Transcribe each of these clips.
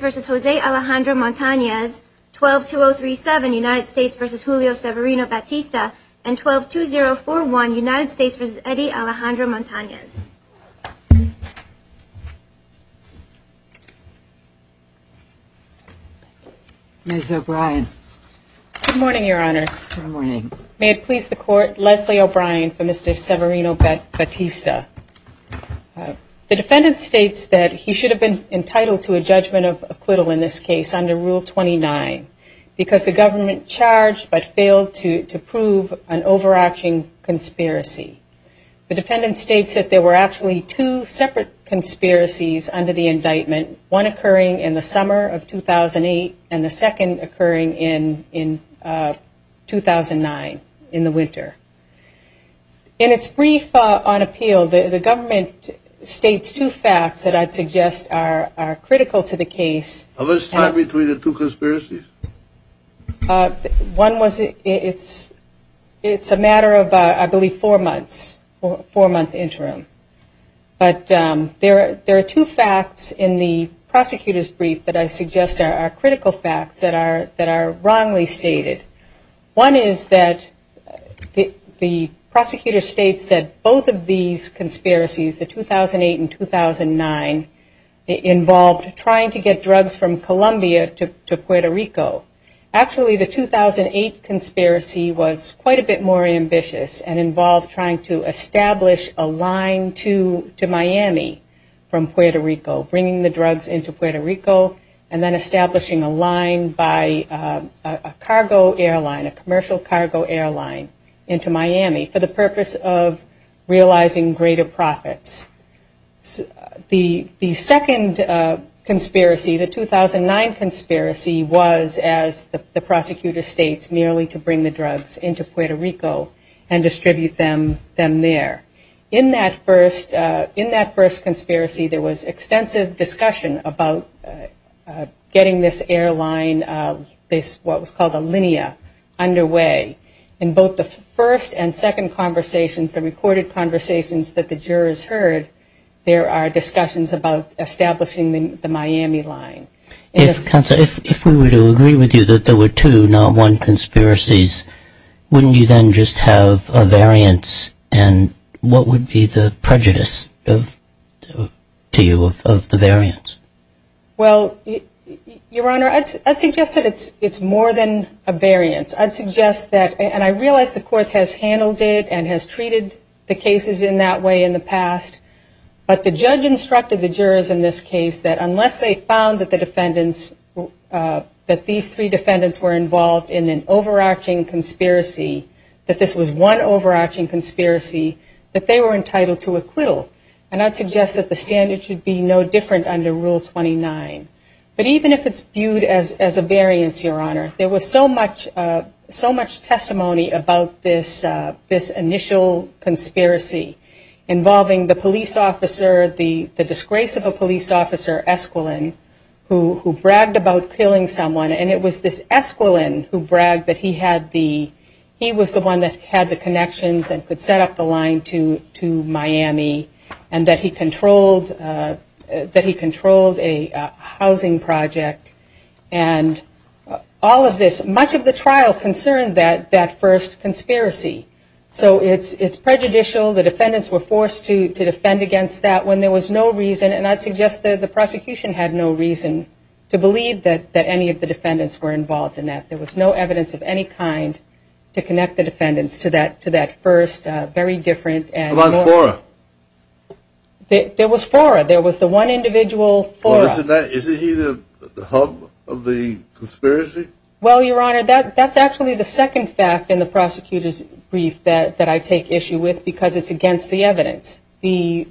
12-2037 United States v. Julio Severino-Batista and 12-2041 United States v. Eddie Alejandro-Montanez. Ms. O'Brien. Good morning, Your Honors. Good morning. May it please the Court, Leslie O'Brien for Mr. Severino-Batista. The defendant states that he should have been entitled to a judgment of acquittal in this case under Rule 29 because the government charged but failed to prove an overarching conspiracy. The defendant states that there were actually two separate conspiracies under the indictment, one occurring in the summer of 2008 and the second occurring in 2009, in the winter. In its brief on appeal, the government states two facts that I'd suggest are critical to the case. How much time between the two conspiracies? One was it's a matter of I believe four months, four month interim. But there are two facts in the prosecutor's brief that I suggest are critical facts that are wrongly stated. One is that the prosecutor states that both of these conspiracies, the 2008 and 2009, involved trying to get drugs from Columbia to Puerto Rico. Actually, the 2008 conspiracy was quite a bit more ambitious and involved trying to establish a line to Miami from Puerto Rico, bringing the drugs into Puerto Rico and then establishing a line by a cargo airline, a commercial cargo airline into Miami for the purpose of realizing greater profits. The second conspiracy, the 2009 conspiracy, was as the prosecutor states merely to bring the drugs into Puerto Rico and distribute them there. In that first conspiracy, there was extensive discussion about getting this airline, what was called a linea, underway. In both the first and second conversations, the recorded conversations that the jurors heard, there are discussions about establishing the Miami line. If we were to agree with you that there were two, not one, conspiracies, wouldn't you then just have a variance and what would be the prejudice to you of the variance? Well, Your Honor, I'd suggest that it's more than a variance. I'd suggest that, and I realize the court has handled it and has treated the cases in that way in the past, but the judge instructed the jurors in this case that unless they found that the defendants, that these three defendants were involved in an overarching conspiracy, that this was one overarching conspiracy, that they were going to have a variance. I understand it should be no different under Rule 29. But even if it's viewed as a variance, Your Honor, there was so much testimony about this initial conspiracy involving the police officer, the disgrace of a police officer, Esquilin, who bragged about killing someone and it was this Esquilin who bragged that he had the, he was the one that had the connections and could set the line to Miami and that he controlled a housing project. And all of this, much of the trial concerned that first conspiracy. So it's prejudicial, the defendants were forced to defend against that when there was no reason, and I'd suggest that the prosecution had no reason to believe that any of the defendants were involved in that. There was no evidence of any kind to connect the defendants to that first very different. What about Fora? There was Fora. There was the one individual, Fora. Isn't he the hub of the conspiracy? Well, Your Honor, that's actually the second fact in the prosecutor's brief that I take issue with because it's against the evidence. The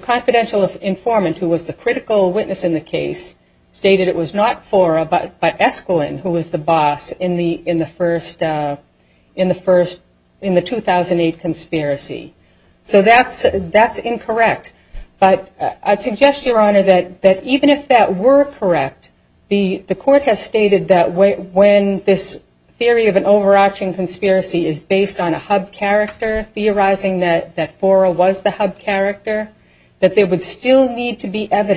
confidential informant who was the critical witness in the case stated it was not Fora, but it was the second fact that I take issue with. It was not Fora, but Esquilin who was the boss in the first, in the first, in the 2008 conspiracy. So that's, that's incorrect. But I'd suggest, Your Honor, that even if that were correct, the court has stated that when this theory of an overarching conspiracy is based on a hub character, theorizing that Fora was the hub character, that there would have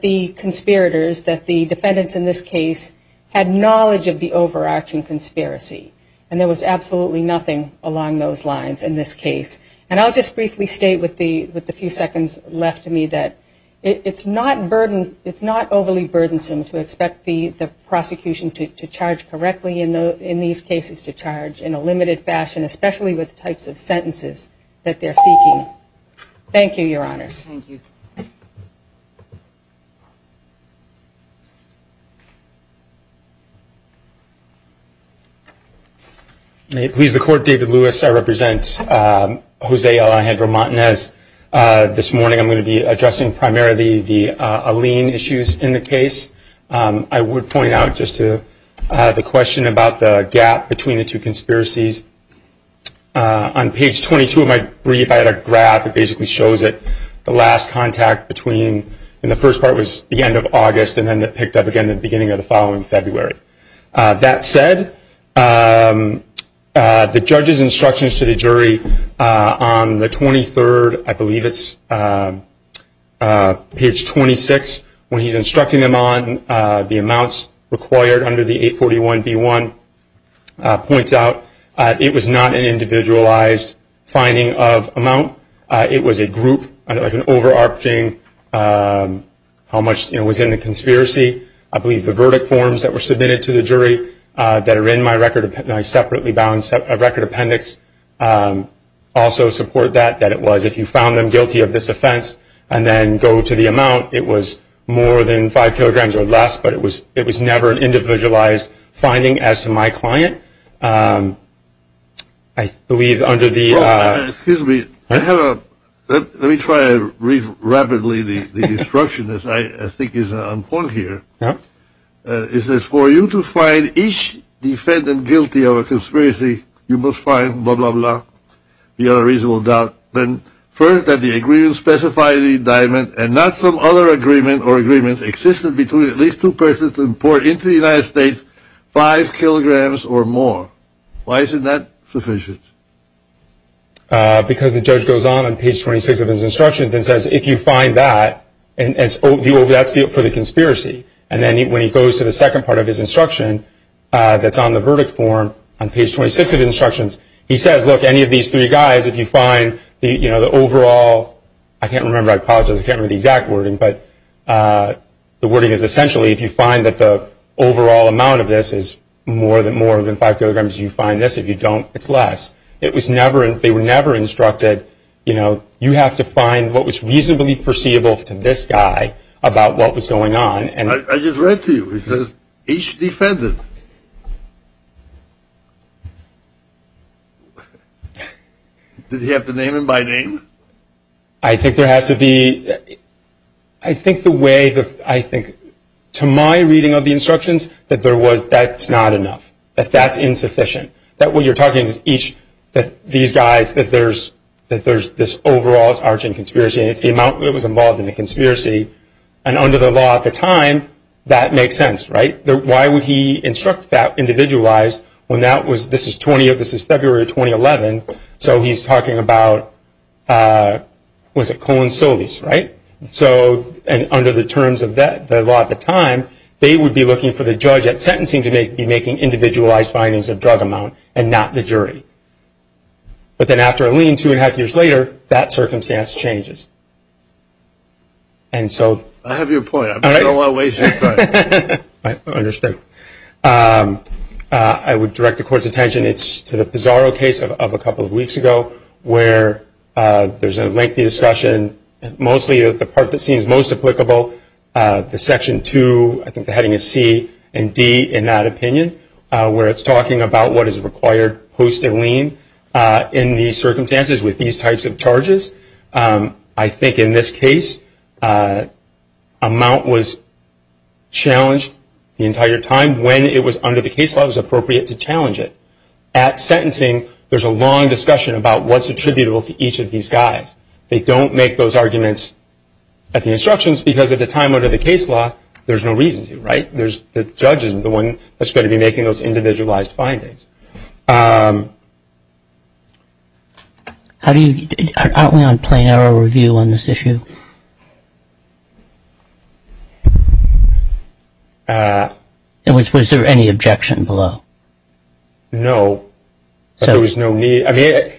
been conspirators, that the defendants in this case had knowledge of the overarching conspiracy, and there was absolutely nothing along those lines in this case. And I'll just briefly state with the few seconds left to me that it's not burden, it's not overly burdensome to expect the prosecution to charge correctly in these cases, to charge in a limited fashion, especially with types of sentences that they're seeking. Thank you, Your Honors. Thank you. May it please the Court, David Lewis, I represent Jose Alejandro Martinez. This morning I'm going to be addressing primarily the Alene issues in the case. I would point out just to the question about the gap between the two conspiracies, on page 22 of my brief, I had a little bit of a gap there. The last contact between, in the first part, was the end of August, and then it picked up again at the beginning of the following February. That said, the judge's instructions to the jury on the 23rd, I believe it's page 26, when he's instructing them on the amounts required under the 841B1, points out it was not an individualized finding of amount. It was a group, like an overarching, how much was in the conspiracy. I believe the verdict forms that were submitted to the jury that are in my separately bound record appendix also support that, that it was, if you found them guilty of this offense and then go to the amount, it was more than 5 kilograms or less, but it was never an individualized finding as to my client. I believe under the... Excuse me, I have a, let me try to read rapidly the instruction that I think is on point here. It says, for you to find each defendant guilty of a conspiracy, you must find blah, blah, blah, you have a reasonable doubt, then first that the agreement specified in the indictment and not some other agreement or agreements existed between at least two persons to import into the United States 5 kilograms or more. Why isn't that sufficient? Because the judge goes on on page 26 of his instructions and says, if you find that, that's for the conspiracy. And then when he goes to the second part of his instruction that's on the verdict form on page 26 of the instructions, he says, look, any of these three guys, if you find the overall, I can't remember, I apologize, I can't remember the exact wording, but the wording is essentially if you find that the overall amount of this is more than 5 kilograms, you find this. If you don't, it's less. It was never, they were never instructed, you know, you have to find what was reasonably foreseeable to this guy about what was going on. I just read to you, it says each defendant. Did he have to name him by name? I think there has to be, I think the way, I think to my reading of the instructions, that there was, that's not enough, that that's insufficient, that what you're talking is each, that these guys, that there's this overall arching conspiracy and it's the amount that was involved in the conspiracy and under the law at the time, that makes sense, right? Why would he instruct that individualized when that was, this is February of 2011, so he's talking about, was it Colon Solis, right? So under the terms of the law at the time, they would be looking for the judge at sentencing to make the individualized findings of drug amount and not the jury. But then after a lien, two and a half years later, that circumstance changes. And so... I have your point. I don't want to waste your time. I understand. I would direct the court's attention, it's to the Pizarro case of a couple of weeks ago, where there's a lengthy discussion, mostly the part that seems most applicable, the Section 2, I think the heading is C and D in that opinion, where it's talking about what is required post a lien in these circumstances with these types of charges. I think in this case, amount was challenged the entire time. When it was under the case law, it was appropriate to challenge it. At sentencing, there's a long discussion about what's attributable to each of these guys. They don't make those arguments at the instructions because at the time under the case law, there's no reason to, right? The judge isn't the one that's going to be making those individualized findings. Aren't we on plain error review on this issue? Was there any objection below? No. There was no need. I mean,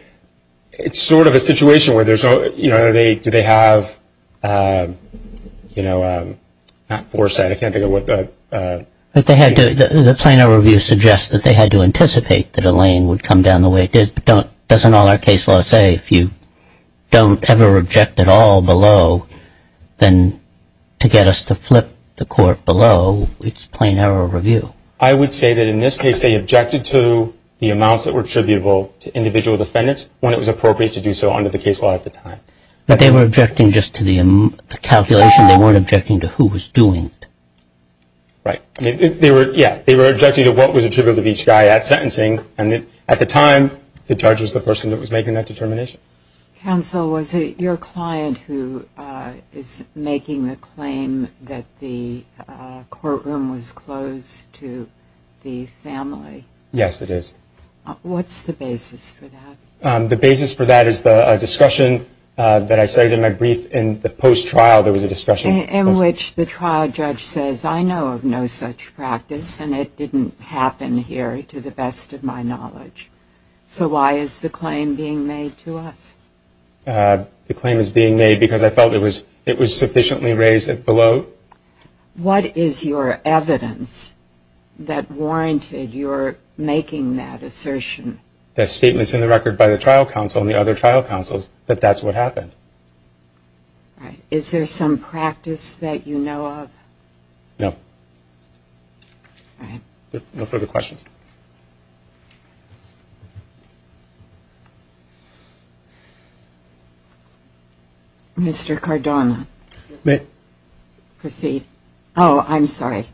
it's sort of a situation where there's no, you know, do they have, you know, not foresight. I can't think of what the... But they had to, the plain error review suggests that they had to anticipate that a lien would come down the way it did. But don't, doesn't all our case law say if you don't ever object at all below, then to get us to flip the court below, it's plain error review. I would say that in this case, they objected to the amounts that were attributable to individual defendants when it was appropriate to do so under the case law at the time. But they were objecting just to the calculation. They weren't objecting to who was doing it. Right. I mean, they were, yeah, they were objecting to what was attributable to each guy at sentencing. And at the time, the judge was the person that was making that determination. Counsel, was it your client who is making the claim that the courtroom was closed to the family? Yes, it is. What's the basis for that? The basis for that is the discussion that I cited in my brief. In the post-trial, there was a discussion. In which the trial judge says, I know of no such practice, and it didn't happen here to the best of my knowledge. So why is the claim being made to us? The claim is being made because I felt it was sufficiently raised below. What is your evidence that warranted your making that assertion? The statements in the record by the trial counsel and the other trial counsels that that's what happened. Is there some practice that you know of? No. No further questions. Mr. Cardona. Proceed. Oh, I'm sorry.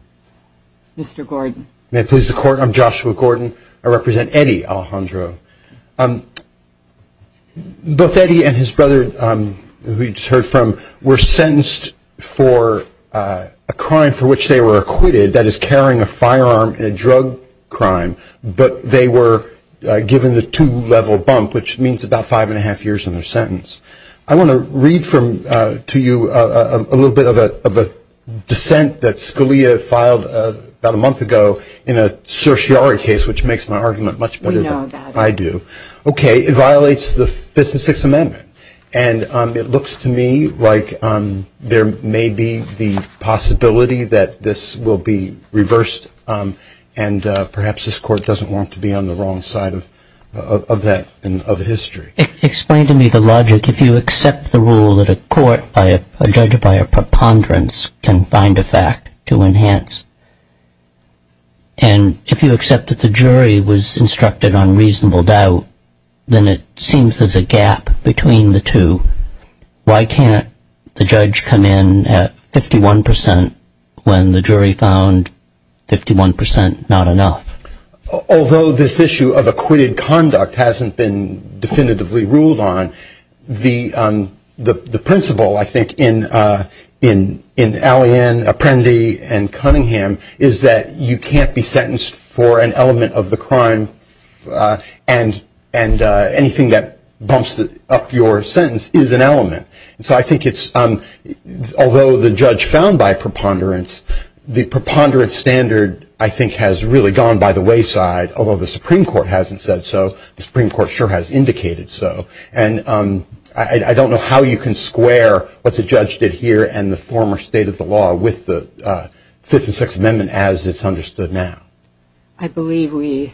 Mr. Gordon. May it please the Court, I'm Joshua Gordon. I represent Eddie Alejandro. Both Eddie and his brother, who you just heard from, were sentenced for a crime for which they were acquitted, that is carrying a firearm in a drug crime, but they were given the two-level bump, which means about five and a half years in their sentence. I want to read to you a little bit of a dissent that Scalia filed about a month ago in a certiorari case, which makes my argument much better than I do. We know about it. Okay. It violates the Fifth and Sixth Amendment, and it looks to me like there may be the possibility that this will be reversed, and perhaps this Court doesn't want to be on the wrong side of history. Explain to me the logic. If you accept the rule that a court, a judge by a preponderance, can find a fact to enhance, and if you accept that the jury was instructed on reasonable doubt, then it seems there's a gap between the two. Why can't the judge come in at 51% when the jury found 51% not enough? Although this issue of acquitted conduct hasn't been definitively ruled on, the principle, I think, in Alleyne, Apprendi, and Cunningham, is that you can't be sentenced for an element of the crime, and anything that bumps up your sentence is an element. So I think it's, although the judge found by preponderance, the preponderance standard, I think, has really gone by the wayside, although the Supreme Court hasn't said so. The Supreme Court sure has indicated so. And I don't know how you can square what the judge did here and the former state of the law with the Fifth and Sixth Amendment, as it's understood now. I believe we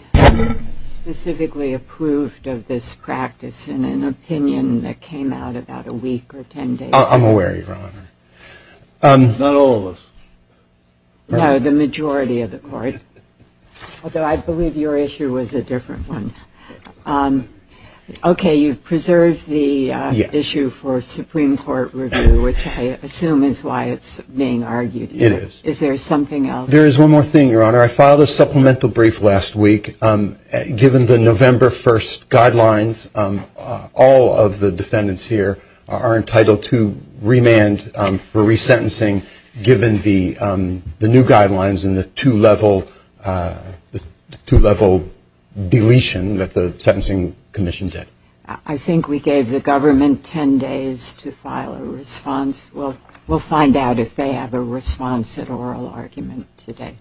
specifically approved of this practice in an opinion that came out about a week or ten days ago. I'm aware, Your Honor. Not all of us. No, the majority of the court. Although I believe your issue was a different one. Okay, you've preserved the issue for Supreme Court review, which I assume is why it's being argued. It is. Is there something else? There is one more thing, Your Honor. I filed a supplemental brief last week. Given the November 1st guidelines, all of the defendants here are entitled to remand for resentencing given the new guidelines and the two-level deletion that the Sentencing Commission did. I think we gave the government ten days to file a response. We'll find out if they have a response at oral argument today.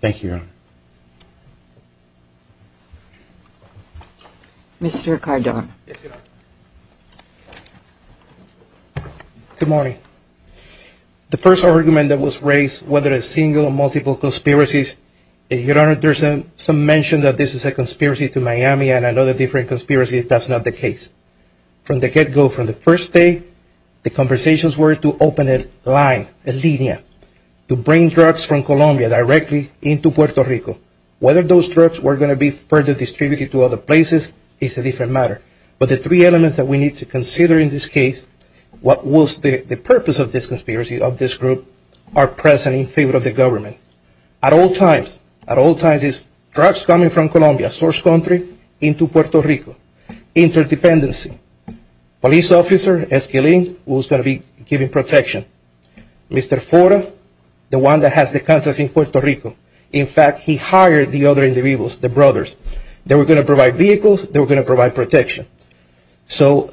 Thank you, Your Honor. Mr. Cardona. Good morning. The first argument that was raised, whether a single or multiple conspiracies, Your Honor, there's some mention that this is a conspiracy to Miami and other different conspiracies. That's not the case. From the get-go, from the first day, the intentions were to open a line, a linea, to bring drugs from Colombia directly into Puerto Rico. Whether those drugs were going to be further distributed to other places is a different matter. But the three elements that we need to consider in this case, what was the purpose of this conspiracy, of this group, are present in favor of the government. At all times, at all times, it's drugs coming from Colombia, source country, into Puerto Rico. Interdependency. Police officer, Esquilin, who was going to be giving protection. Mr. Fora, the one that has the contact in Puerto Rico. In fact, he hired the other individuals, the brothers. They were going to provide vehicles. They were going to provide protection. So,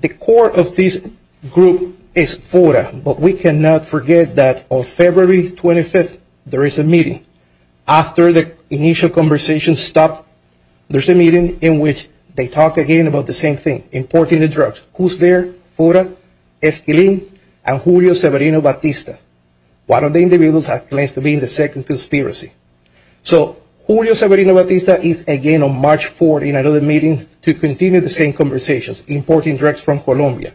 the core of this group is Fora. But we cannot forget that on February 25th, there is a meeting. After the initial conversation stopped, there's a meeting in which they talk again about the same thing. Importing the drugs. Who's there? Fora, Esquilin, and Julio Severino-Batista. One of the individuals claims to be in the second conspiracy. So, Julio Severino-Batista is again on March 4th in another meeting to continue the same conversations. Importing drugs from Colombia.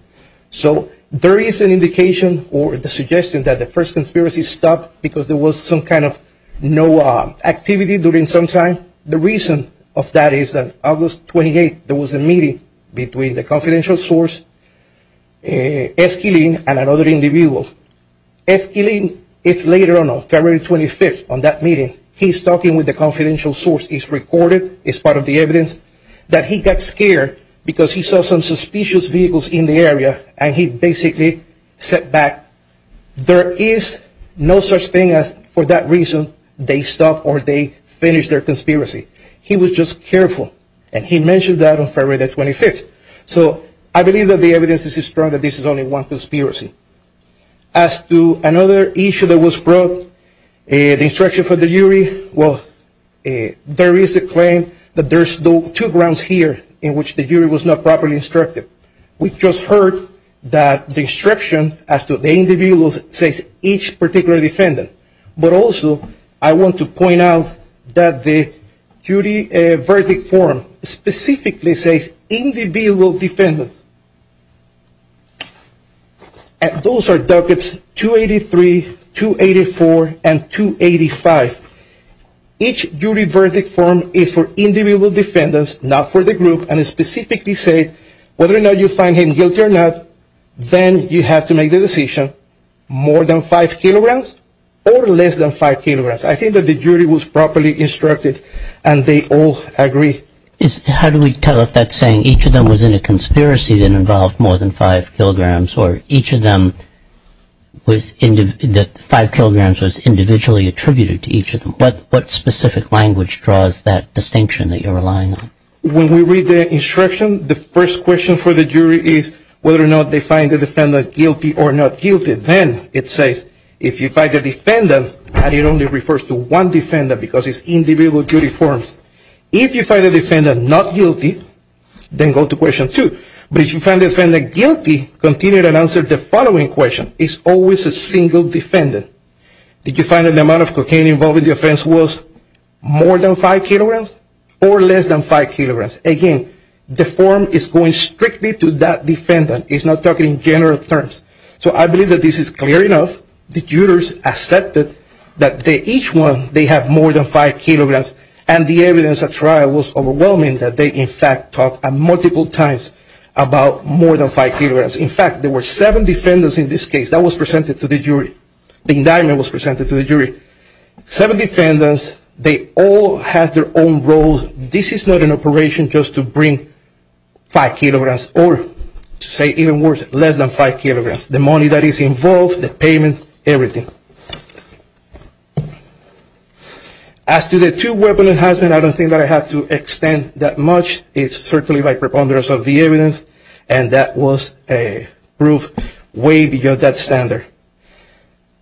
So, there is an indication or the suggestion that the first conspiracy stopped because there was some kind of no activity during some time. The reason of that is that August 28th, there was a meeting between the confidential source, Esquilin, and another individual. Esquilin, it's later on, on February 25th on that meeting, he's talking with the confidential source. It's recorded, it's part of the evidence that he got scared because he saw some suspicious vehicles in the area and he basically stepped back. There is no such thing as, for that reason, they stopped or they finished their conspiracy. He was just careful. And he mentioned that on February 25th. So, I believe that the evidence is strong that this is only one conspiracy. As to another issue that was brought, the instruction for the jury, well, there is a claim that there's two grounds here in which the jury was not properly instructed. We just heard that the instruction as to the individuals says each particular defendant. But also, I want to point out that the jury verdict form specifically says individual defendant. And those are ducats 283, 284, and 285. Each jury verdict form is for individual defendants, not for the group, and it specifically says whether or not you find him guilty or not, then you have to make the decision, more than five kilograms or less than five kilograms. I think that the jury was properly instructed and they all agree. How do we tell if that's saying each of them was in a conspiracy that involved more than five kilograms or each of them was, that five kilograms was individually attributed to each of them? What specific language draws that distinction that you're relying on? When we read the instruction, the first question for the jury is whether or not they find the defendant guilty or not guilty. Then it says, if you find the defendant and it only refers to one defendant because it's individual jury forms, if you find the defendant not guilty, then go to question two. But if you find the defendant guilty, continue to answer the following question. It's always a single defendant. Did you find that the amount of cocaine involved in the offense was more than five kilograms or less than five kilograms? Again, the form is going strictly to that defendant. It's not talking in general terms. So I believe that this is clear enough. The jurors accepted that each one, they have more than five kilograms and the evidence at trial was overwhelming that they in fact talked multiple times about more than five kilograms. In fact, there were seven defendants in this case. That was presented to the jury. The indictment was presented to the jury. Seven defendants, they all have their own roles. This is not an operation just to bring five kilograms or, to say even worse, less than five kilograms. The money that is involved, that is not the money that is involved. As to the two weapon enhancement, I don't think that I have to extend that much. It's certainly by preponderance of the evidence and that was a proof way beyond that standard.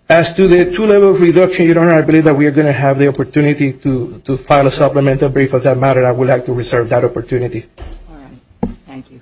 As to the two level reduction, Your Honor, I believe that we are going to have the opportunity to file a supplemental brief on that matter. I would like to reserve that opportunity. All right. Thank you.